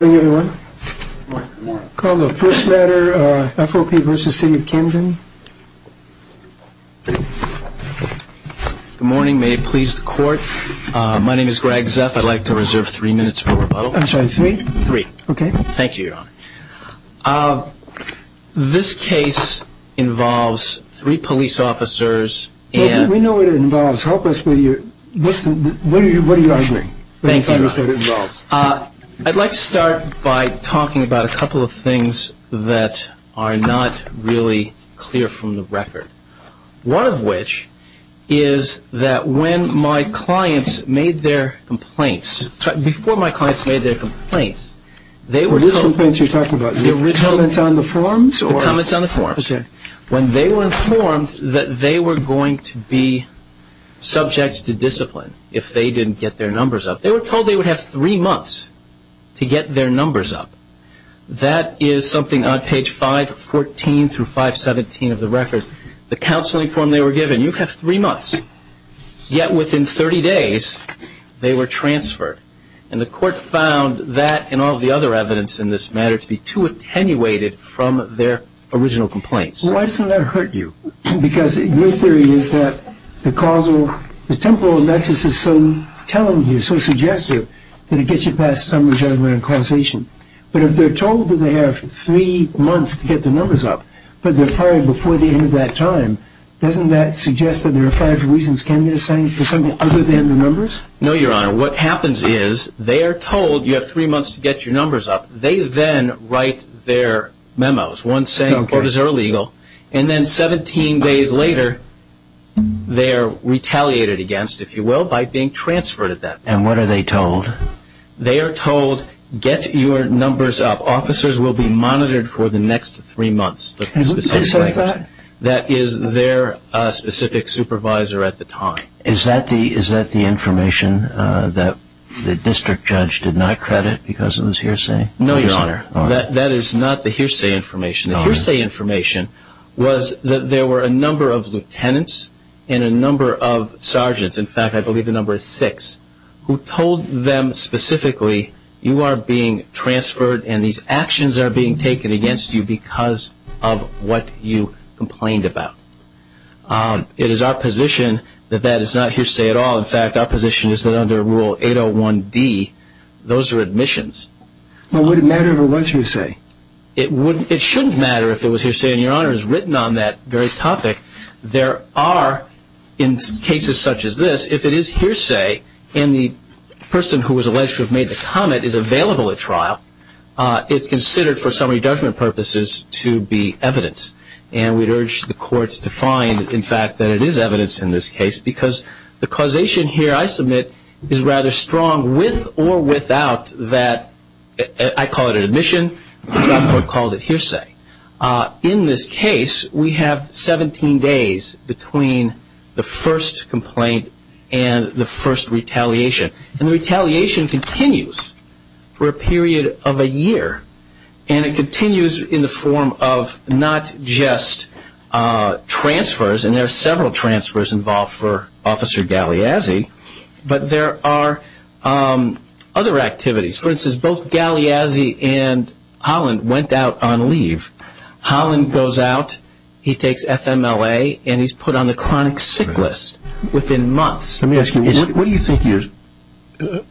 Good morning everyone. Good morning. Call the first matter, FOP v. City of Camden. Good morning, may it please the court. My name is Greg Zeff. I'd like to reserve three minutes for rebuttal. I'm sorry, three? Three. Okay. Thank you, Your Honor. This case involves three police officers and... What are you arguing? Thank you, Your Honor. I'd like to start by talking about a couple of things that are not really clear from the record. One of which is that when my clients made their complaints, before my clients made their complaints, they were told... What complaints are you talking about? The original... The comments on the forms? The comments on the forms. Okay. When they were informed that they were going to be subject to discipline if they didn't get their numbers up, they were told they would have three months to get their numbers up. That is something on page 514 through 517 of the record. The counseling form they were given, you have three months. Yet within 30 days, they were transferred. And the court found that and all the other evidence in this matter to be too attenuated from their original complaints. Why doesn't that hurt you? Because your theory is that the causal... The temporal nexus is so telling you, so suggestive, that it gets you past summary judgment and causation. But if they're told that they have three months to get their numbers up, but they're fired before the end of that time, doesn't that suggest that there are five reasons, can you say, for something other than the numbers? No, Your Honor. What happens is they are told you have three months to get your numbers up. They then write their memos. One saying, quotas are illegal. And then 17 days later, they're retaliated against, if you will, by being transferred at that point. And what are they told? They are told, get your numbers up. Officers will be monitored for the next three months. Can you say something like that? That is their specific supervisor at the time. Is that the information that the district judge did not credit because it was hearsay? No, Your Honor. That is not the hearsay information. The hearsay information was that there were a number of lieutenants and a number of sergeants, in fact I believe the number is six, who told them specifically you are being transferred and these actions are being taken against you because of what you complained about. It is our position that that is not hearsay at all. In fact, our position is that under Rule 801D, those are admissions. Well, would it matter if it was hearsay? It shouldn't matter if it was hearsay, and Your Honor has written on that very topic. There are, in cases such as this, if it is hearsay and the person who was alleged to have made the comment is available at trial, it's considered for summary judgment purposes to be evidence. And we'd urge the courts to find, in fact, that it is evidence in this case because the causation here I submit is rather strong with or without that, I call it an admission, the Supreme Court called it hearsay. In this case, we have 17 days between the first complaint and the first retaliation. And the retaliation continues for a period of a year, and it continues in the form of not just transfers, and there are several transfers involved for Officer Galliazzi, but there are other activities. For instance, both Galliazzi and Holland went out on leave. Holland goes out, he takes FMLA, and he's put on the chronic sick list within months. Let me ask you, what do you think you're,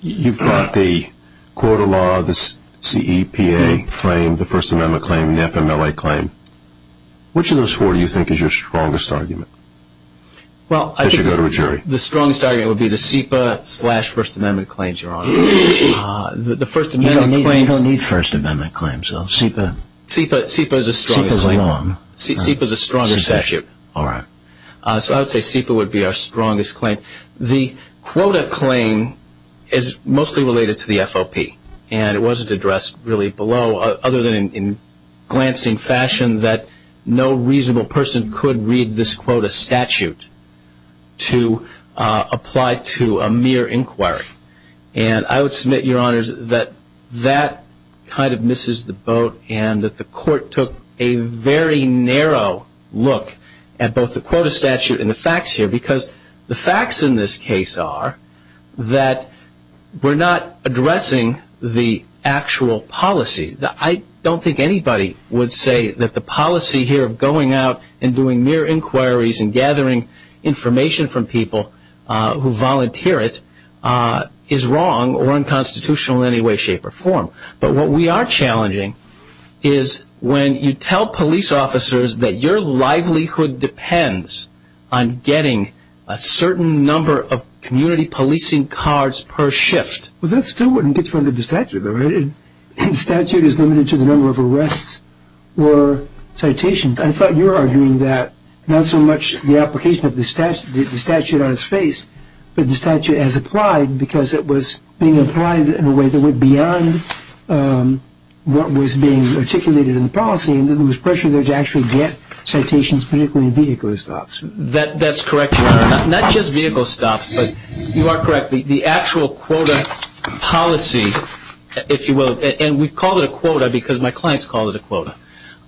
you've got the court of law, the CEPA claim, the First Amendment claim, the FMLA claim. Which of those four do you think is your strongest argument as you go to a jury? Well, I think the strongest argument would be the CEPA slash First Amendment claims, Your Honor. You don't need First Amendment claims, though. CEPA is a stronger claim. CEPA is wrong. CEPA is a stronger statute. All right. So I would say CEPA would be our strongest claim. The quota claim is mostly related to the FOP, and it wasn't addressed really below, other than in glancing fashion, that no reasonable person could read this quota statute to apply to a mere inquiry. And I would submit, Your Honors, that that kind of misses the boat and that the court took a very narrow look at both the quota statute and the facts here, because the facts in this case are that we're not addressing the actual policy. I don't think anybody would say that the policy here of going out and doing mere inquiries and gathering information from people who volunteer it is wrong or unconstitutional in any way, shape, or form. But what we are challenging is when you tell police officers that your livelihood depends on getting a certain number of community policing cards per shift. But that still wouldn't get you under the statute, though, right? The statute is limited to the number of arrests or citations. I thought you were arguing that not so much the application of the statute on its face, but the statute as applied because it was being applied in a way that went beyond what was being articulated in the policy and there was pressure there to actually get citations, particularly in vehicle stops. That's correct, Your Honor. Not just vehicle stops, but you are correct. The actual quota policy, if you will, and we call it a quota because my clients call it a quota,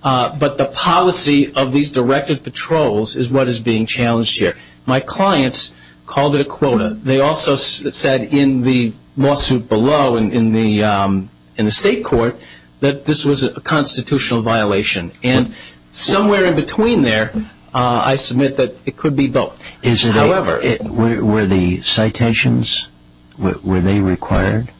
but the policy of these directed patrols is what is being challenged here. My clients called it a quota. They also said in the lawsuit below in the state court that this was a constitutional violation. And somewhere in between there, I submit that it could be both. However, were the citations, were they required?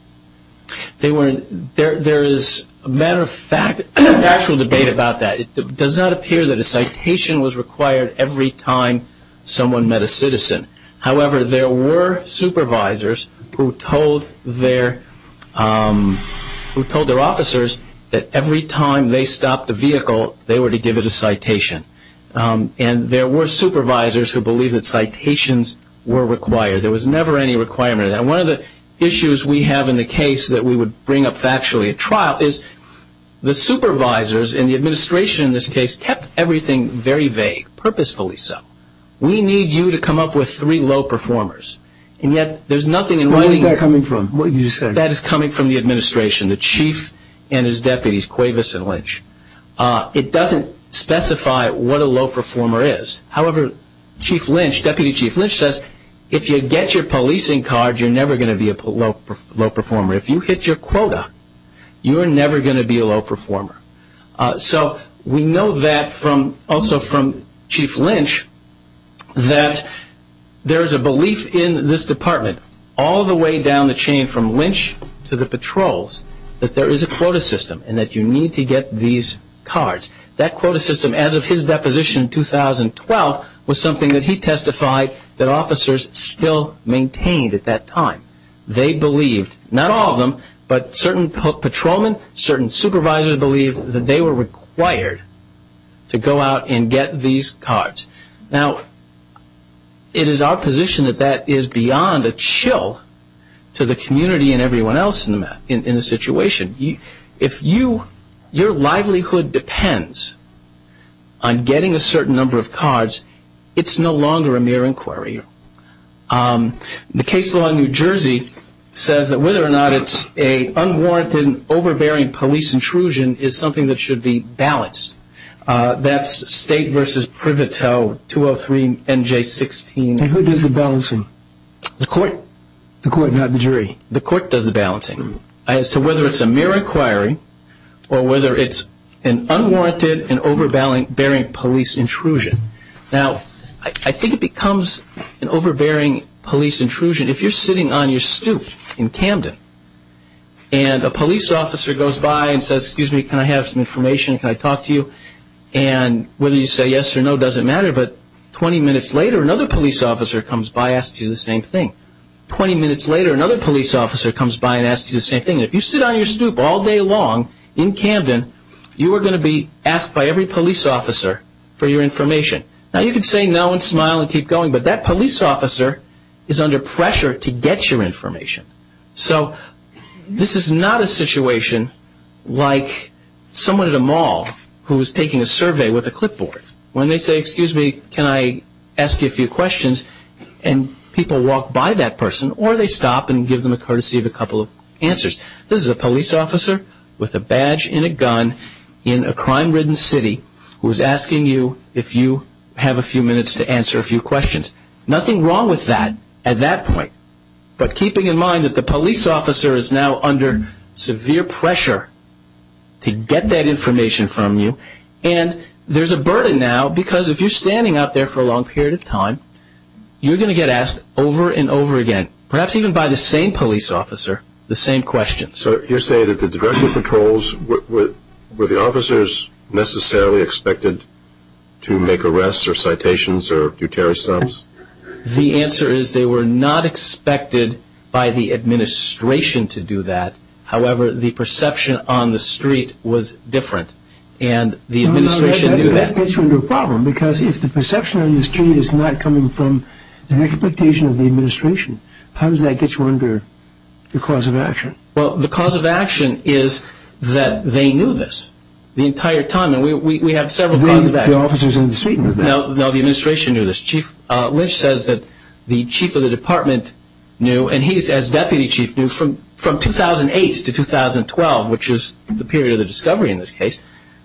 There is a matter of factual debate about that. It does not appear that a citation was required every time someone met a citizen. However, there were supervisors who told their officers that every time they stopped a vehicle, they were to give it a citation. And there were supervisors who believed that citations were required. There was never any requirement of that. One of the issues we have in the case that we would bring up factually at trial is the supervisors and the administration in this case kept everything very vague, purposefully so. We need you to come up with three low performers. And yet there is nothing in writing that is coming from the administration, the chief and his deputies, Cuevas and Lynch. It does not specify what a low performer is. However, Deputy Chief Lynch says if you get your policing card, you are never going to be a low performer. If you hit your quota, you are never going to be a low performer. So we know that also from Chief Lynch that there is a belief in this department, all the way down the chain from Lynch to the patrols, that there is a quota system and that you need to get these cards. That quota system, as of his deposition in 2012, was something that he testified that officers still maintained at that time. They believed, not all of them, but certain patrolmen, certain supervisors believed that they were required to go out and get these cards. Now, it is our position that that is beyond a chill to the community and everyone else in the situation. If your livelihood depends on getting a certain number of cards, it is no longer a mere inquiry. The case law in New Jersey says that whether or not it is an unwarranted, overbearing police intrusion is something that should be balanced. That is State v. Priveto, 203 NJ 16. And who does the balancing? The court. The court, not the jury? The court does the balancing as to whether it is a mere inquiry or whether it is an unwarranted and overbearing police intrusion. Now, I think it becomes an overbearing police intrusion if you are sitting on your stoop in Camden and a police officer goes by and says, excuse me, can I have some information, can I talk to you? And whether you say yes or no doesn't matter, but 20 minutes later another police officer comes by and asks you the same thing. 20 minutes later another police officer comes by and asks you the same thing. If you sit on your stoop all day long in Camden, you are going to be asked by every police officer for your information. Now, you can say no and smile and keep going, but that police officer is under pressure to get your information. So this is not a situation like someone at a mall who is taking a survey with a clipboard. When they say, excuse me, can I ask you a few questions, and people walk by that person or they stop and give them a courtesy of a couple of answers. This is a police officer with a badge and a gun in a crime-ridden city who is asking you if you have a few minutes to answer a few questions. Nothing wrong with that at that point, but keeping in mind that the police officer is now under severe pressure to get that information from you, and there is a burden now because if you are standing out there for a long period of time, you are going to get asked over and over again, perhaps even by the same police officer, the same questions. So you are saying that the directive patrols, were the officers necessarily expected to make arrests or citations or do tarry stops? The answer is they were not expected by the administration to do that. However, the perception on the street was different, and the administration knew that. No, no, that gets you into a problem, because if the perception on the street is not coming from an expectation of the administration, how does that get you under the cause of action? Well, the cause of action is that they knew this the entire time, and we have several causes of action. The officers on the street knew this? No, the administration knew this. Chief Lynch says that the chief of the department knew, and he as deputy chief knew from 2008 to 2012, which is the period of the discovery in this case,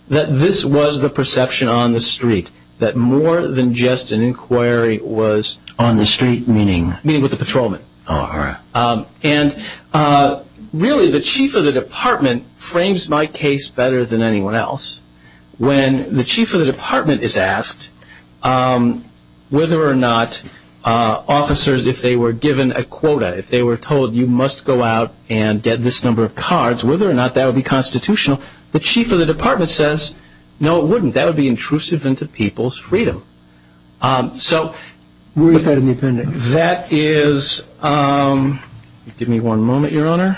that this was the perception on the street, that more than just an inquiry was... On the street meaning? Meaning with the patrolmen. All right. And really the chief of the department frames my case better than anyone else. When the chief of the department is asked whether or not officers, if they were given a quota, if they were told you must go out and get this number of cards, whether or not that would be constitutional, the chief of the department says, no, it wouldn't. That would be intrusive into people's freedom. So... Where is that in the appendix? That is... Give me one moment, Your Honor.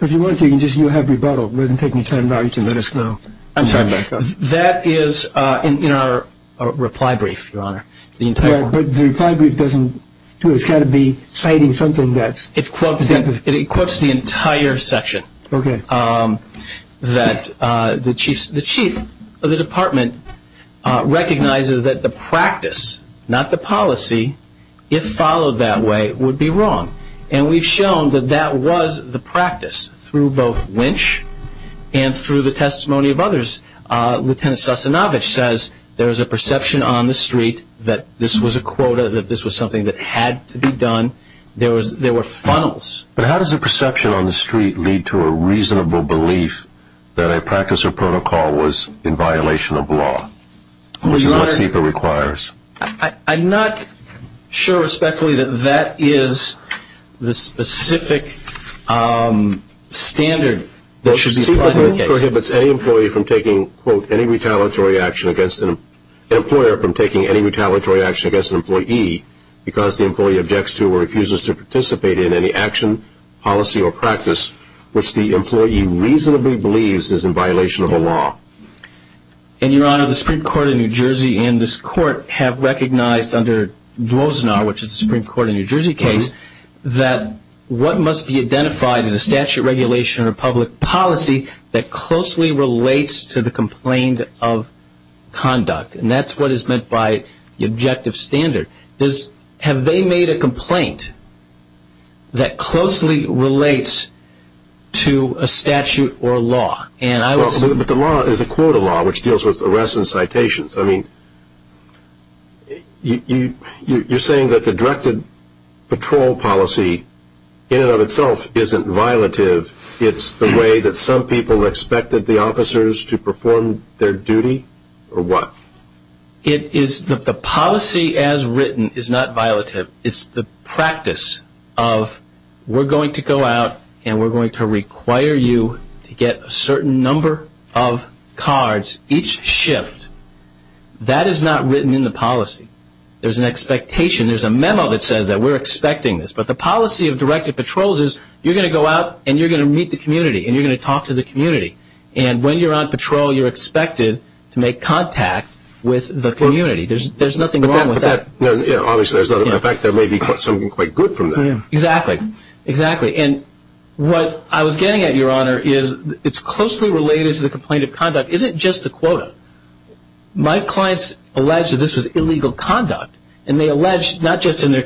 If you want to, you can just have rebuttal. It wouldn't take me ten minutes. I'm sorry. That is in our reply brief, Your Honor. But the reply brief doesn't do it. It's got to be citing something that's... It quotes the entire section. Okay. That the chief of the department recognizes that the practice, not the policy, if followed that way, would be wrong. And we've shown that that was the practice through both Lynch and through the testimony of others. Lieutenant Sasanovich says there's a perception on the street that this was a quota, that this was something that had to be done. There were funnels. But how does a perception on the street lead to a reasonable belief that a practice or protocol was in violation of law, which is what CEPA requires? I'm not sure respectfully that that is the specific standard that should be applied in the case. CEPA prohibits any employee from taking, quote, any retaliatory action against an employer from taking any retaliatory action against an employee because the employee objects to or refuses to participate in any action, policy, or practice, which the employee reasonably believes is in violation of a law. And, Your Honor, the Supreme Court of New Jersey and this Court have recognized under Dwozenaar, which is the Supreme Court of New Jersey case, that what must be identified is a statute regulation or public policy that closely relates to the complaint of conduct. And that's what is meant by the objective standard. Have they made a complaint that closely relates to a statute or a law? But the law is a quota law, which deals with arrests and citations. I mean, you're saying that the directed patrol policy in and of itself isn't violative. It's the way that some people expected the officers to perform their duty or what? The policy as written is not violative. It's the practice of we're going to go out and we're going to require you to get a certain number of cards each shift. That is not written in the policy. There's an expectation. There's a memo that says that we're expecting this. But the policy of directed patrols is you're going to go out and you're going to meet the community and you're going to talk to the community. And when you're on patrol, you're expected to make contact with the community. There's nothing wrong with that. Obviously, there may be something quite good from that. Exactly. And what I was getting at, Your Honor, is it's closely related to the complaint of conduct. Is it just a quota? My clients allege that this was illegal conduct. And they allege, not just in the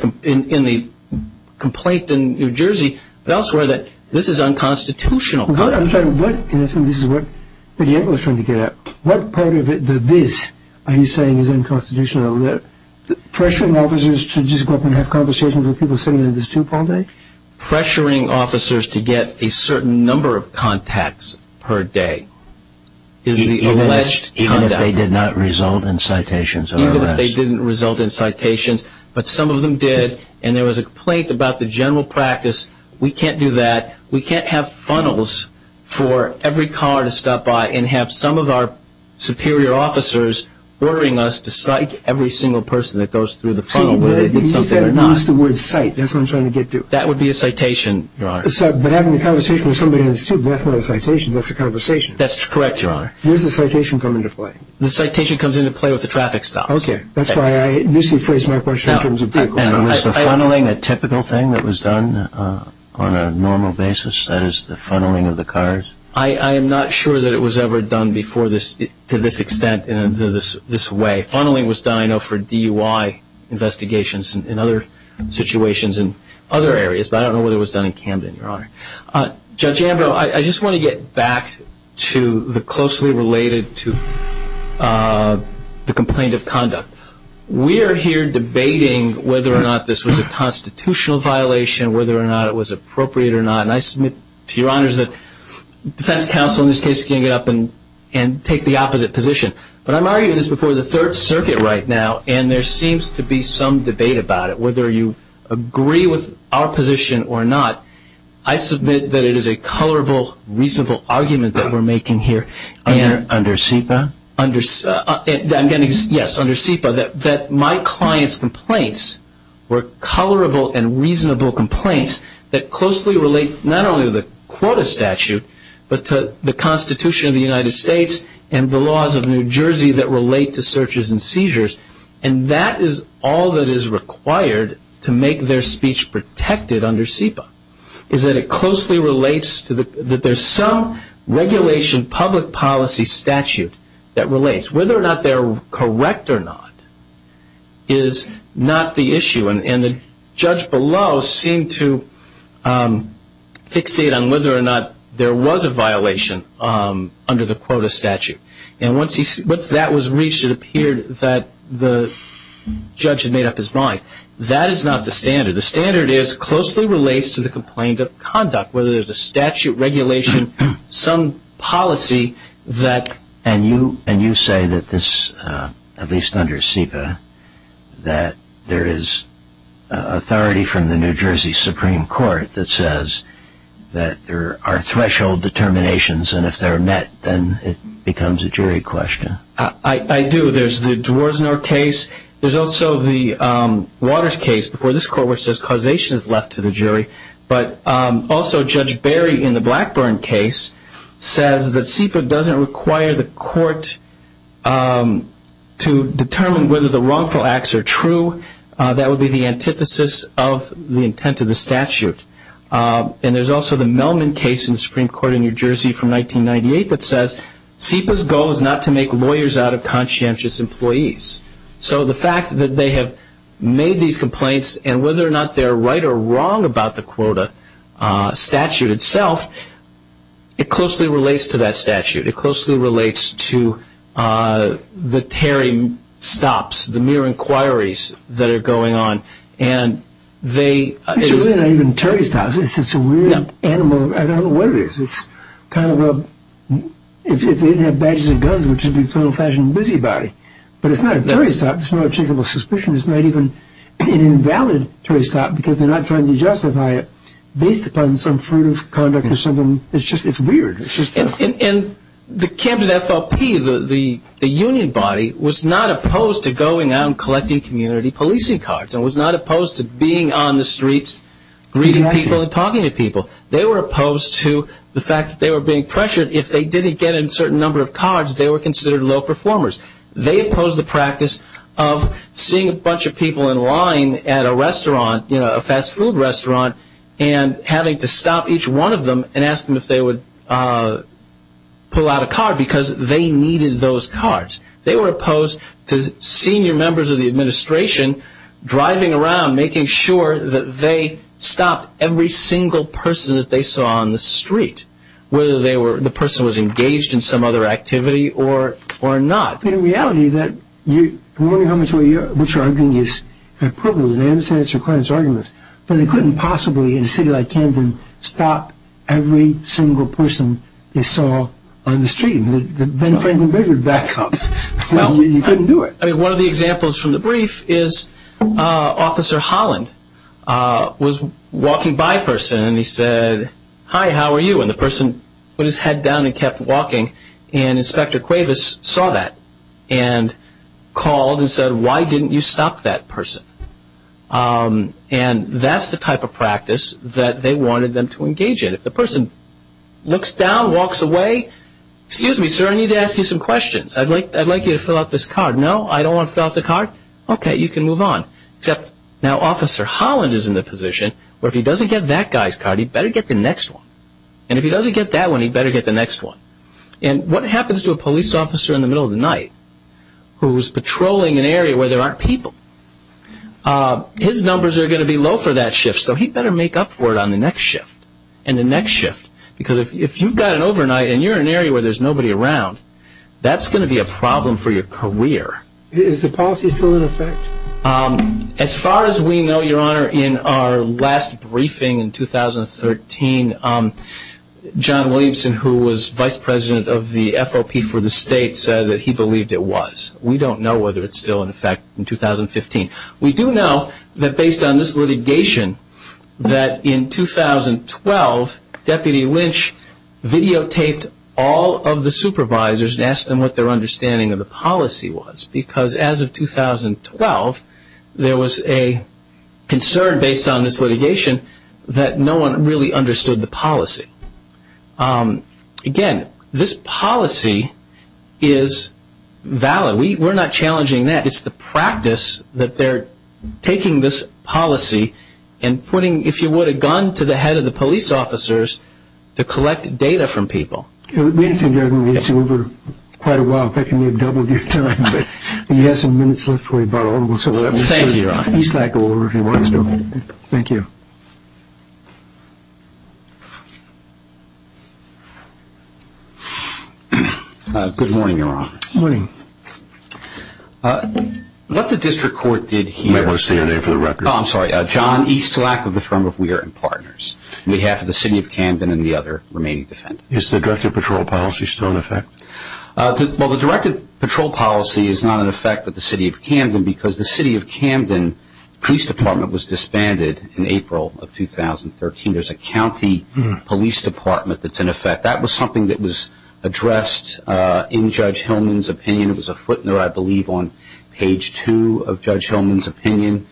complaint in New Jersey, but elsewhere, that this is unconstitutional conduct. I'm sorry. What, and I think this is what Mr. Yankovic was trying to get at. What part of the this are you saying is unconstitutional? Pressuring officers to just go up and have conversations with people sitting in this tube all day? Pressuring officers to get a certain number of contacts per day. Even if they did not result in citations? Even if they didn't result in citations. But some of them did. And there was a complaint about the general practice. We can't do that. We can't have funnels for every car to stop by and have some of our superior officers ordering us to cite every single person that goes through the funnel whether they did something or not. You used the word cite. That's what I'm trying to get to. That would be a citation, Your Honor. But having a conversation with somebody in this tube, that's not a citation. That's a conversation. That's correct, Your Honor. Where does the citation come into play? The citation comes into play with the traffic stops. Okay. That's why I initially phrased my question in terms of vehicles. And was the funneling a typical thing that was done on a normal basis? That is, the funneling of the cars? I am not sure that it was ever done to this extent in this way. Funneling was done, I know, for DUI investigations and other situations in other areas. But I don't know whether it was done in Camden, Your Honor. Judge Ambrose, I just want to get back to the closely related to the complaint of conduct. We are here debating whether or not this was a constitutional violation, whether or not it was appropriate or not. And I submit to Your Honors that defense counsel in this case is going to get up and take the opposite position. But I'm arguing this before the Third Circuit right now, and there seems to be some debate about it, whether you agree with our position or not. I submit that it is a colorable, reasonable argument that we're making here. Under SEPA? Yes, under SEPA. That my client's complaints were colorable and reasonable complaints that closely relate not only to the quota statute, but to the Constitution of the United States and the laws of New Jersey that relate to searches and seizures. And that is all that is required to make their speech protected under SEPA, is that it closely relates to the – that there's some regulation, public policy statute that relates. Whether or not they're correct or not is not the issue. And the judge below seemed to fixate on whether or not there was a violation under the quota statute. And once that was reached, it appeared that the judge had made up his mind. That is not the standard. The standard is closely relates to the complaint of conduct, whether there's a statute, regulation, some policy that – And you say that this, at least under SEPA, that there is authority from the New Jersey Supreme Court that says that there are threshold determinations, and if they're met, then it becomes a jury question. I do. There's the Dworzenor case. There's also the Waters case before this court which says causation is left to the jury. But also Judge Barry in the Blackburn case says that SEPA doesn't require the court to determine whether the wrongful acts are true. That would be the antithesis of the intent of the statute. And there's also the Melman case in the Supreme Court in New Jersey from 1998 that says SEPA's goal is not to make lawyers out of conscientious employees. So the fact that they have made these complaints and whether or not they're right or wrong about the quota statute itself, it closely relates to that statute. It closely relates to the Terry stops, the mere inquiries that are going on. And they – It's really not even a Terry stop. It's just a weird animal. I don't know what it is. It's kind of a – if they didn't have badges and guns, it would just be some old-fashioned busybody. But it's not a Terry stop. It's not a checkable suspicion. It's not even an invalid Terry stop because they're not trying to justify it based upon some fruit of conduct or something. It's just – it's weird. And the camp of the FLP, the union body, was not opposed to going out and collecting community policing cards and was not opposed to being on the streets, greeting people and talking to people. They were opposed to the fact that they were being pressured. If they didn't get a certain number of cards, they were considered low performers. They opposed the practice of seeing a bunch of people in line at a restaurant, a fast food restaurant, and having to stop each one of them and ask them if they would pull out a card because they needed those cards. They were opposed to senior members of the administration driving around, making sure that they stopped every single person that they saw on the street, whether the person was engaged in some other activity or not. In reality, that – I'm wondering how much of what you're arguing is a privilege. I understand that's your client's argument, but they couldn't possibly in a city like Camden stop every single person they saw on the street. The Ben Franklin Bridge would back up. You couldn't do it. I mean, one of the examples from the brief is Officer Holland was walking by a person, and he said, hi, how are you? And the person put his head down and kept walking. And Inspector Cuevas saw that and called and said, why didn't you stop that person? And that's the type of practice that they wanted them to engage in. If the person looks down, walks away, excuse me, sir, I need to ask you some questions. I'd like you to fill out this card. No, I don't want to fill out the card. Okay, you can move on. Except now Officer Holland is in the position where if he doesn't get that guy's card, he better get the next one. And if he doesn't get that one, he better get the next one. And what happens to a police officer in the middle of the night who's patrolling an area where there aren't people? His numbers are going to be low for that shift, so he better make up for it on the next shift. And the next shift, because if you've got an overnight and you're in an area where there's nobody around, that's going to be a problem for your career. Is the policy still in effect? As far as we know, Your Honor, in our last briefing in 2013, John Williamson, who was vice president of the FOP for the state, said that he believed it was. We don't know whether it's still in effect in 2015. We do know that based on this litigation that in 2012, Deputy Lynch videotaped all of the supervisors and asked them what their understanding of the policy was. Because as of 2012, there was a concern based on this litigation that no one really understood the policy. Again, this policy is valid. We're not challenging that. It's the practice that they're taking this policy and putting, if you would, a gun to the head of the police officers to collect data from people. It would be interesting to see over quite a while if that can be doubled in time. We have some minutes left. Thank you, Your Honor. Thank you. Good morning, Your Honor. Good morning. What the district court did here- I want to say your name for the record. Oh, I'm sorry. John Eastlack of the firm of Weir and Partners, on behalf of the city of Camden and the other remaining defendants. Is the directed patrol policy still in effect? Well, the directed patrol policy is not in effect with the city of Camden because the city of Camden police department was disbanded in April of 2013. There's a county police department that's in effect. That was something that was addressed in Judge Hillman's opinion. It was a footnote, I believe, on page two of Judge Hillman's opinion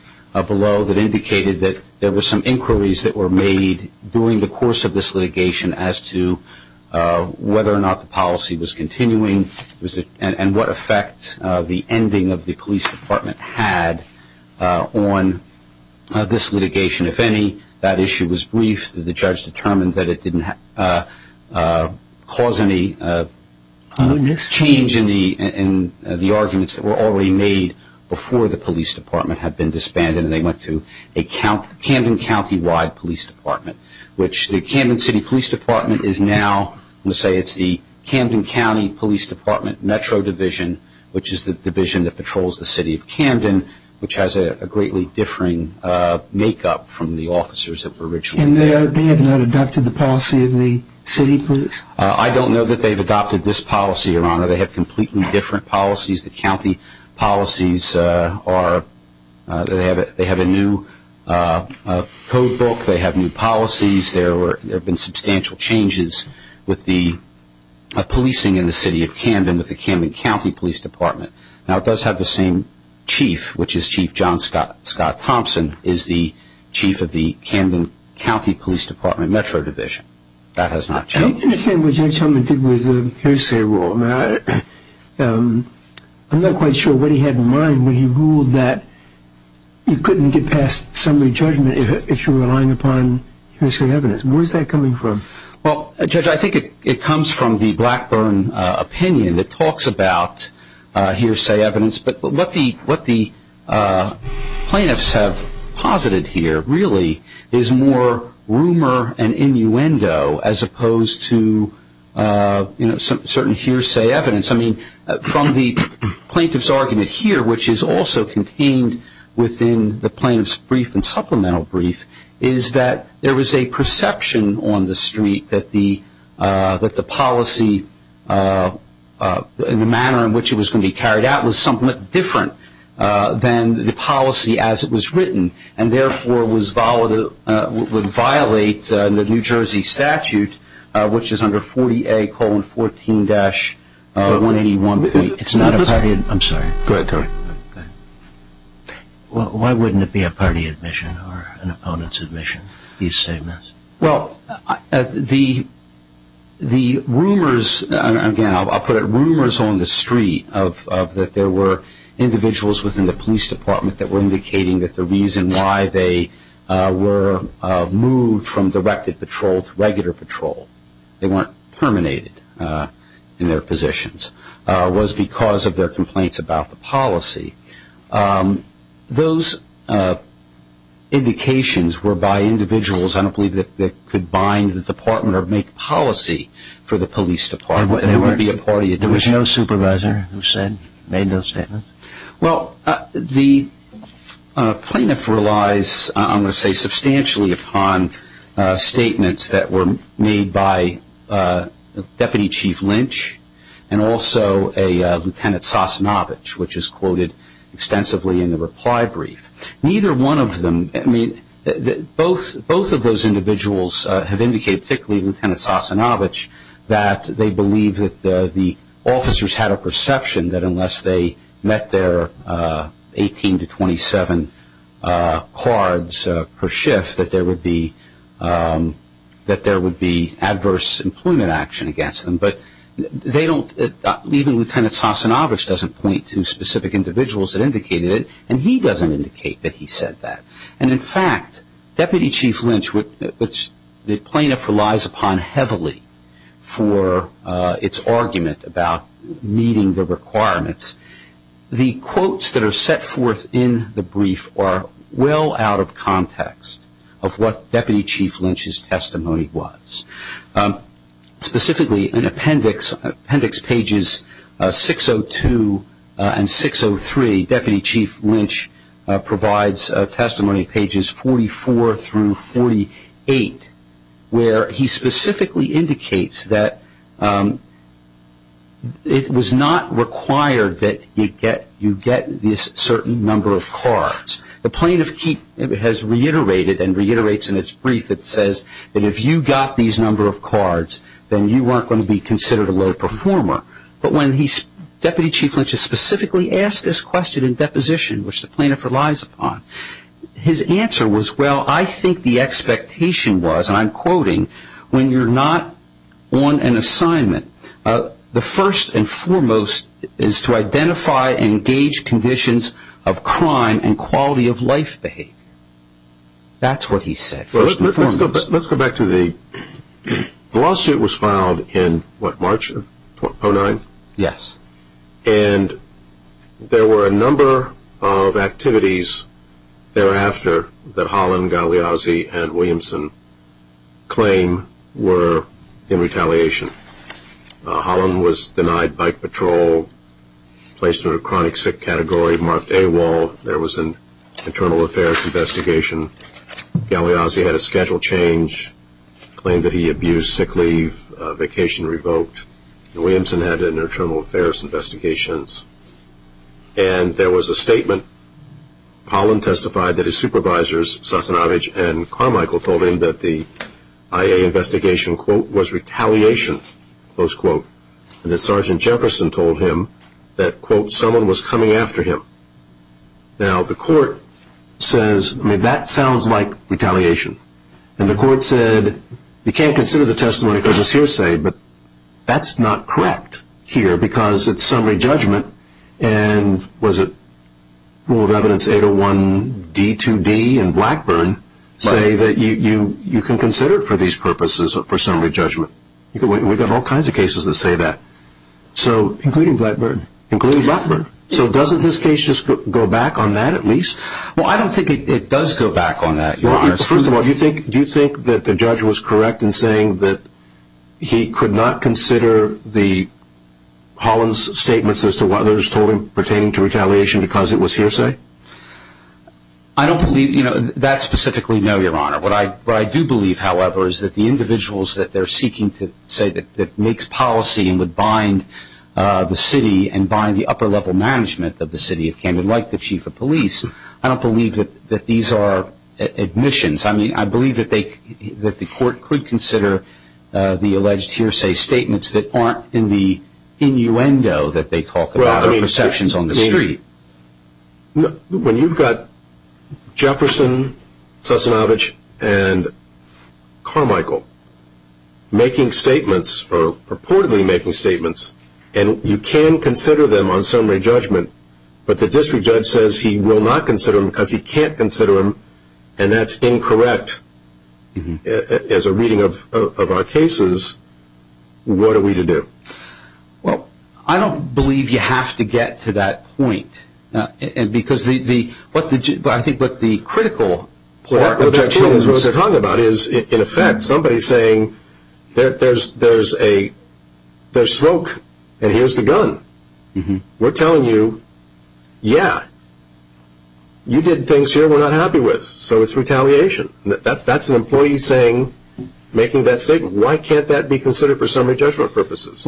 below that indicated that there were some inquiries that were made during the course of this litigation as to whether or not the policy was continuing and what effect the ending of the police department had on this litigation. If any, that issue was briefed. The judge determined that it didn't cause any change in the arguments that were already made before the police department had been disbanded, and they went to a Camden countywide police department, which the Camden City Police Department is now, I'm going to say it's the Camden County Police Department Metro Division, which is the division that patrols the city of Camden, which has a greatly differing makeup from the officers that were originally there. And they have not adopted the policy of the city police? I don't know that they've adopted this policy, Your Honor. They have completely different policies. The county policies are, they have a new code book. They have new policies. There have been substantial changes with the policing in the city of Camden with the Camden County Police Department. Now it does have the same chief, which is Chief John Scott Thompson, is the chief of the Camden County Police Department Metro Division. That has not changed. I don't understand what Judge Helman did with the hearsay rule. I'm not quite sure what he had in mind when he ruled that you couldn't get past summary judgment if you were relying upon hearsay evidence. Where is that coming from? Well, Judge, I think it comes from the Blackburn opinion that talks about hearsay evidence, but what the plaintiffs have posited here really is more rumor and innuendo as opposed to certain hearsay evidence. I mean, from the plaintiff's argument here, which is also contained within the plaintiff's brief and supplemental brief, is that there was a perception on the street that the policy and the manner in which it was going to be carried out was somewhat different than the policy as it was written and therefore would violate the New Jersey statute, which is under 40A-14-181. I'm sorry. Go ahead. Why wouldn't it be a party admission or an opponent's admission, these statements? Well, the rumors, again, I'll put it, rumors on the street of that there were individuals within the police department that were indicating that the reason why they were moved from directed patrol to regular patrol, they weren't terminated in their positions, was because of their complaints about the policy. Those indications were by individuals, I don't believe, that could bind the department or make policy for the police department. There would be a party admission. There was no supervisor who said, made those statements? Well, the plaintiff relies, I'm going to say, substantially upon statements that were made by Deputy Chief Lynch and also a Lieutenant Sasanovich, which is quoted extensively in the reply brief. Neither one of them, I mean, both of those individuals have indicated, particularly Lieutenant Sasanovich, that they believe that the officers had a perception that unless they met their 18 to 27 cards per shift that there would be adverse employment action against them. But they don't, even Lieutenant Sasanovich doesn't point to specific individuals that indicated it, and he doesn't indicate that he said that. And, in fact, Deputy Chief Lynch, which the plaintiff relies upon heavily for its argument about meeting the requirements, the quotes that are set forth in the brief are well out of context of what Deputy Chief Lynch's testimony was. Specifically, in appendix pages 602 and 603, Deputy Chief Lynch provides testimony pages 44 through 48, where he specifically indicates that it was not required that you get this certain number of cards. The plaintiff has reiterated and reiterates in its brief that says that if you got these number of cards, then you weren't going to be considered a low performer. But when Deputy Chief Lynch is specifically asked this question in deposition, which the plaintiff relies upon, his answer was, well, I think the expectation was, and I'm quoting, when you're not on an assignment, the first and foremost is to identify and engage conditions of crime and quality of life behavior. That's what he said, first and foremost. Let's go back to the lawsuit was filed in, what, March of 2009? Yes. And there were a number of activities thereafter that Holland, Galiazzi, and Williamson claim were in retaliation. Holland was denied bike patrol, placed in a chronic sick category, marked AWOL. There was an internal affairs investigation. Galiazzi had a schedule change, claimed that he abused sick leave, vacation revoked. And Williamson had internal affairs investigations. And there was a statement. Holland testified that his supervisors, Sasanovich and Carmichael, told him that the IA investigation, quote, was retaliation, close quote, and that Sergeant Jefferson told him that, quote, someone was coming after him. Now, the court says, I mean, that sounds like retaliation. And the court said you can't consider the testimony because it's hearsay, but that's not correct here because it's summary judgment. And was it rule of evidence 801D2D and Blackburn say that you can consider it for these purposes for summary judgment? We've got all kinds of cases that say that. Including Blackburn. Including Blackburn. So doesn't this case just go back on that at least? Well, I don't think it does go back on that. First of all, do you think that the judge was correct in saying that he could not consider Holland's statements as to what others told him pertaining to retaliation because it was hearsay? I don't believe that specifically, no, Your Honor. What I do believe, however, is that the individuals that they're seeking to say that makes policy and would bind the city and bind the upper level management of the city of Camden, like the chief of police, I don't believe that these are admissions. I believe that the court could consider the alleged hearsay statements that aren't in the innuendo that they talk about or perceptions on the street. When you've got Jefferson, Sosnovich, and Carmichael making statements or purportedly making statements, and you can consider them on summary judgment, but the district judge says he will not consider them because he can't consider them, and that's incorrect as a reading of our cases, what are we to do? Well, I don't believe you have to get to that point because I think what the critical part of that is what they're talking about is, in effect, somebody saying there's smoke and here's the gun. We're telling you, yeah, you did things here we're not happy with, so it's retaliation. That's an employee making that statement. Why can't that be considered for summary judgment purposes?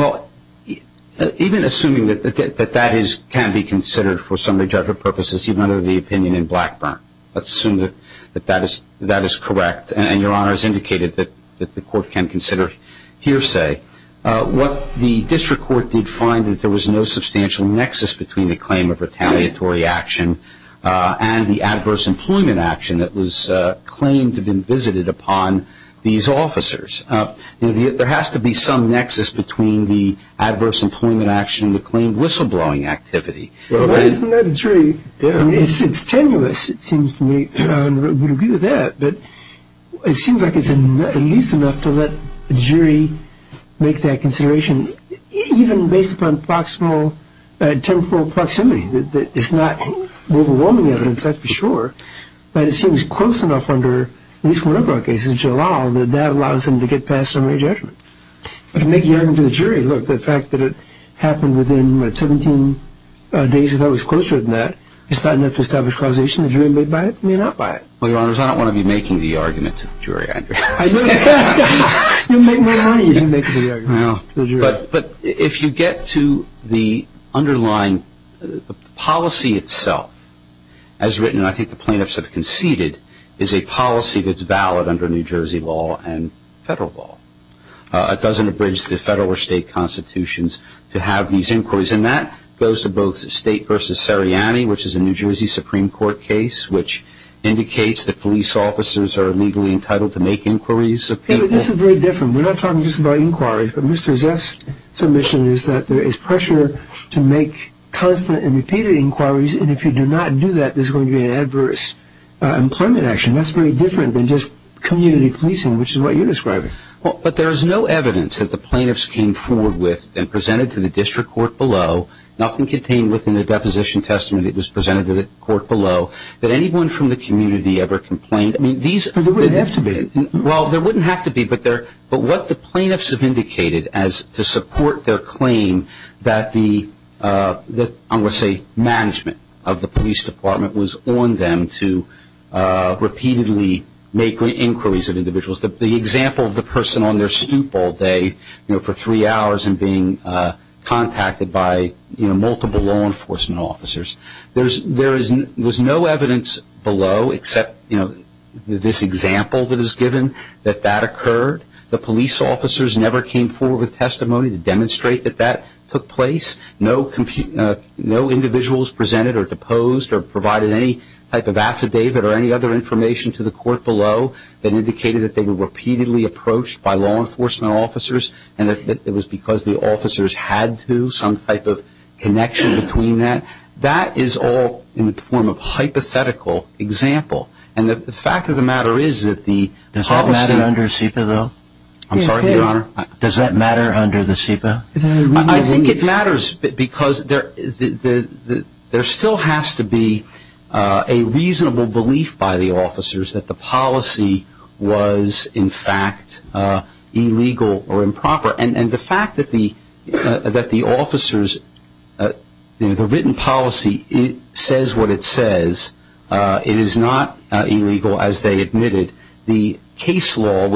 Even assuming that that can be considered for summary judgment purposes, even under the opinion in Blackburn, let's assume that that is correct, and Your Honor has indicated that the court can consider hearsay. What the district court did find is that there was no substantial nexus between the claim of retaliatory action and the adverse employment action that was claimed to have been visited upon these officers. There has to be some nexus between the adverse employment action and the claimed whistleblowing activity. Well, isn't that a jury? It's tenuous, it seems to me, and I would agree with that, but it seems like it's at least enough to let the jury make that consideration, even based upon temporal proximity. It's not overwhelming evidence, that's for sure, but it seems close enough under at least one of our cases, which allows them to get past summary judgment. But to make the argument to the jury, look, the fact that it happened within 17 days, I thought it was closer than that, it's not enough to establish causation. The jury may buy it, may not buy it. Well, Your Honors, I don't want to be making the argument to the jury. You make more money if you make the argument to the jury. But if you get to the underlying policy itself, as written, and I think the plaintiffs have conceded, is a policy that's valid under New Jersey law and federal law. It doesn't abridge the federal or state constitutions to have these inquiries, and that goes to both State v. Seriani, which is a New Jersey Supreme Court case, which indicates that police officers are legally entitled to make inquiries of people. David, this is very different. We're not talking just about inquiries, but Mr. Ziff's submission is that there is pressure to make constant and repeated inquiries, and if you do not do that, there's going to be an adverse employment action. That's very different than just community policing, which is what you're describing. But there is no evidence that the plaintiffs came forward with and presented to the district court below, nothing contained within the Deposition Testament that was presented to the court below, that anyone from the community ever complained. There wouldn't have to be. Well, there wouldn't have to be, but what the plaintiffs have indicated as to support their claim that the, I want to say, management of the police department was on them to repeatedly make inquiries of individuals. The example of the person on their stoop all day for three hours and being contacted by multiple law enforcement officers, there was no evidence below except this example that is given that that occurred. The police officers never came forward with testimony to demonstrate that that took place. No individuals presented or deposed or provided any type of affidavit or any other information to the court below that indicated that they were repeatedly approached by law enforcement officers and that it was because the officers had to, there was some type of connection between that. That is all in the form of hypothetical example. And the fact of the matter is that the policy- Does that matter under the SEPA, though? I'm sorry, Your Honor? Does that matter under the SEPA? I think it matters because there still has to be a reasonable belief by the officers that the policy was in fact illegal or improper. And the fact that the officers, the written policy says what it says, it is not illegal as they admitted. The case law,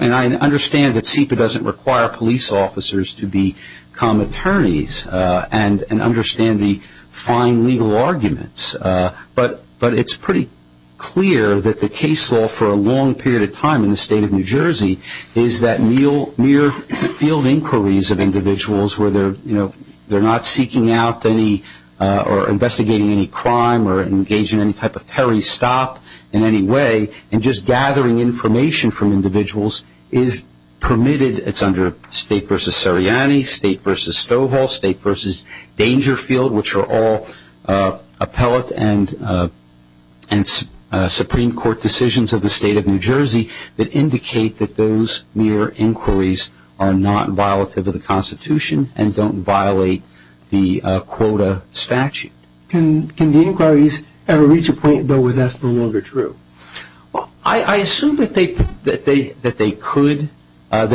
and I understand that SEPA doesn't require police officers to become attorneys and understand the fine legal arguments, but it's pretty clear that the case law for a long period of time in the state of New Jersey is that mere field inquiries of individuals where they're not seeking out any or investigating any crime or engaging in any type of peri-stop in any way and just gathering information from individuals is permitted. It's under State v. Seriani, State v. Stovall, State v. Dangerfield, which are all appellate and Supreme Court decisions of the state of New Jersey that indicate that those mere inquiries are not violative of the Constitution and don't violate the quota statute. Can the inquiries ever reach a point, though, where that's no longer true? I assume that they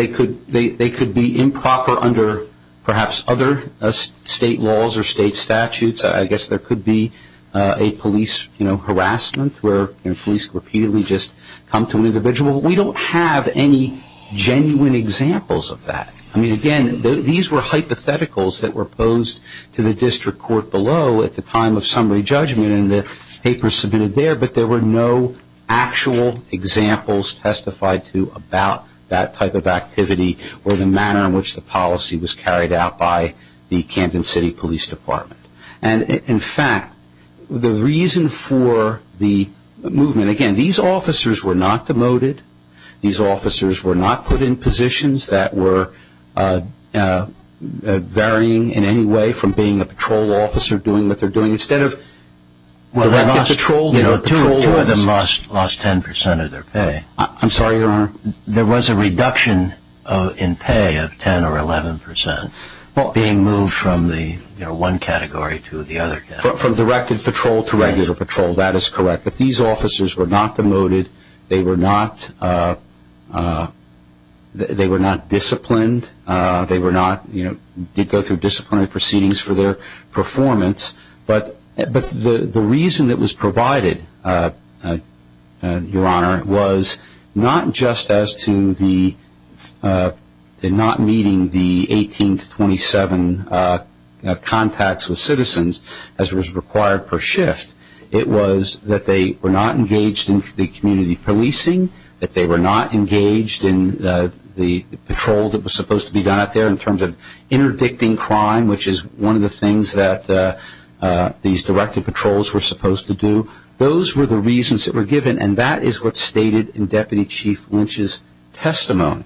could. They could be improper under perhaps other state laws or state statutes. I guess there could be a police harassment where police repeatedly just come to an individual. We don't have any genuine examples of that. I mean, again, these were hypotheticals that were posed to the district court below at the time of summary judgment and the papers submitted there, but there were no actual examples testified to about that type of activity or the manner in which the policy was carried out by the Camden City Police Department. And, in fact, the reason for the movement, again, these officers were not demoted. These officers were not put in positions that were varying in any way from being a patrol officer doing what they're doing instead of patrol officers. Two of them lost 10 percent of their pay. I'm sorry, Your Honor. There was a reduction in pay of 10 or 11 percent being moved from one category to the other. From directed patrol to regular patrol, that is correct. But these officers were not demoted. They were not disciplined. They did go through disciplinary proceedings for their performance. But the reason it was provided, Your Honor, was not just as to the not meeting the 18 to 27 contacts with citizens as was required per shift. It was that they were not engaged in the community policing, that they were not engaged in the patrol that was supposed to be done out there in terms of interdicting crime, which is one of the things that these directed patrols were supposed to do. Those were the reasons that were given, and that is what's stated in Deputy Chief Lynch's testimony,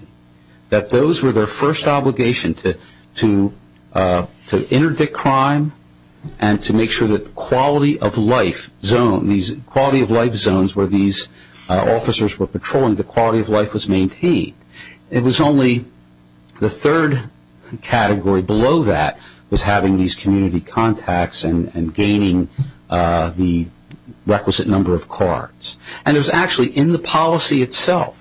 that those were their first obligation to interdict crime and to make sure that the quality of life zone, these quality of life zones where these officers were patrolling, the quality of life was maintained. It was only the third category below that was having these community contacts and gaining the requisite number of cards. And it was actually in the policy itself,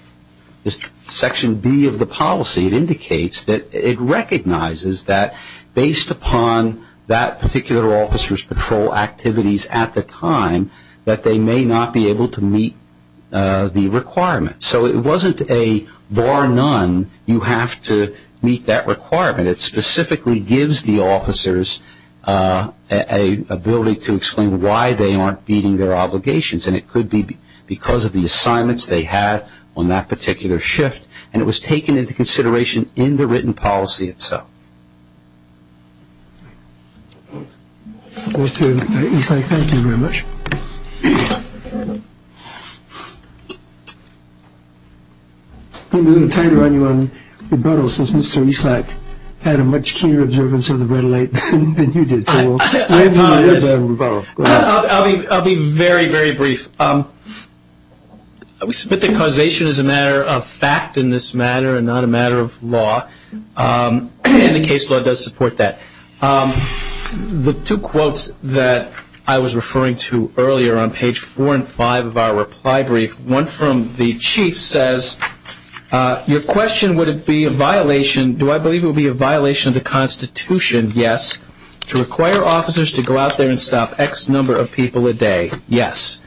Section B of the policy, it indicates that it recognizes that based upon that particular officer's patrol activities at the time, that they may not be able to meet the requirements. So it wasn't a bar none, you have to meet that requirement. It specifically gives the officers an ability to explain why they aren't meeting their obligations, and it could be because of the assignments they had on that particular shift, and it was taken into consideration in the written policy itself. Mr. Eastlack, thank you very much. I'm going to turn it around to you on rebuttal, since Mr. Eastlack had a much keener observance of the red light than you did. I'll be very, very brief. We submit that causation is a matter of fact in this matter and not a matter of law, and the case law does support that. The two quotes that I was referring to earlier on page four and five of our reply brief, one from the chief says, your question, would it be a violation, do I believe it would be a violation of the Constitution? Yes. To require officers to go out there and stop X number of people a day? Yes.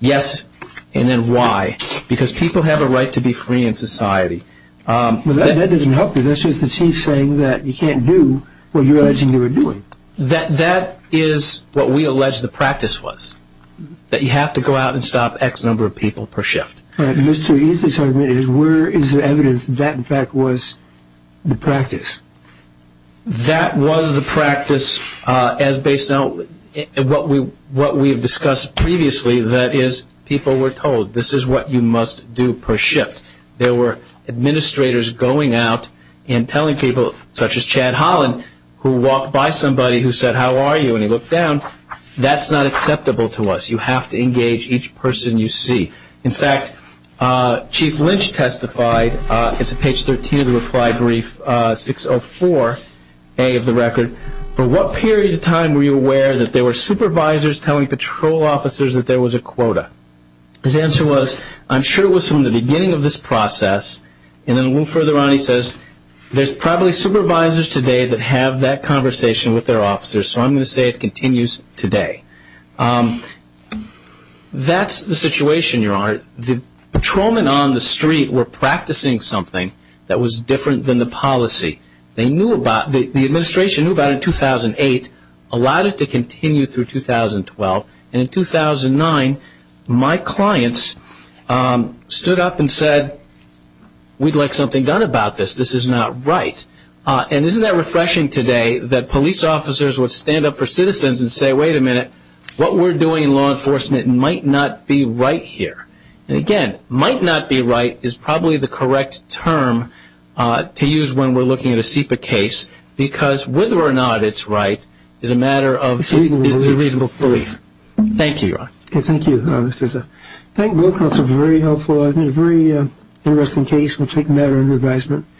Yes. And then why? Because people have a right to be free in society. Well, that doesn't help you. That's just the chief saying that you can't do what you're alleging you were doing. That is what we allege the practice was, that you have to go out and stop X number of people per shift. All right. Mr. Eastlack's argument is where is the evidence that that, in fact, was the practice? That was the practice as based on what we have discussed previously, that is people were told, this is what you must do per shift. There were administrators going out and telling people, such as Chad Holland, who walked by somebody who said, how are you, and he looked down, that's not acceptable to us. You have to engage each person you see. In fact, Chief Lynch testified, it's on page 13 of the reply brief, 604A of the record, for what period of time were you aware that there were supervisors telling patrol officers that there was a quota? His answer was, I'm sure it was from the beginning of this process, and then a little further on he says, there's probably supervisors today that have that conversation with their officers, so I'm going to say it continues today. That's the situation, Your Honor. The patrolmen on the street were practicing something that was different than the policy. The administration knew about it in 2008, allowed it to continue through 2012, and in 2009 my clients stood up and said, we'd like something done about this, this is not right. Isn't that refreshing today that police officers would stand up for citizens and say, wait a minute, what we're doing in law enforcement might not be right here. Again, might not be right is probably the correct term to use when we're looking at a SEPA case, because whether or not it's right is a matter of reasonable belief. Thank you, Your Honor. Thank you, Mr. Zell. Thank both of you for being very helpful. I think it's a very interesting case. We'll take a matter under advisement.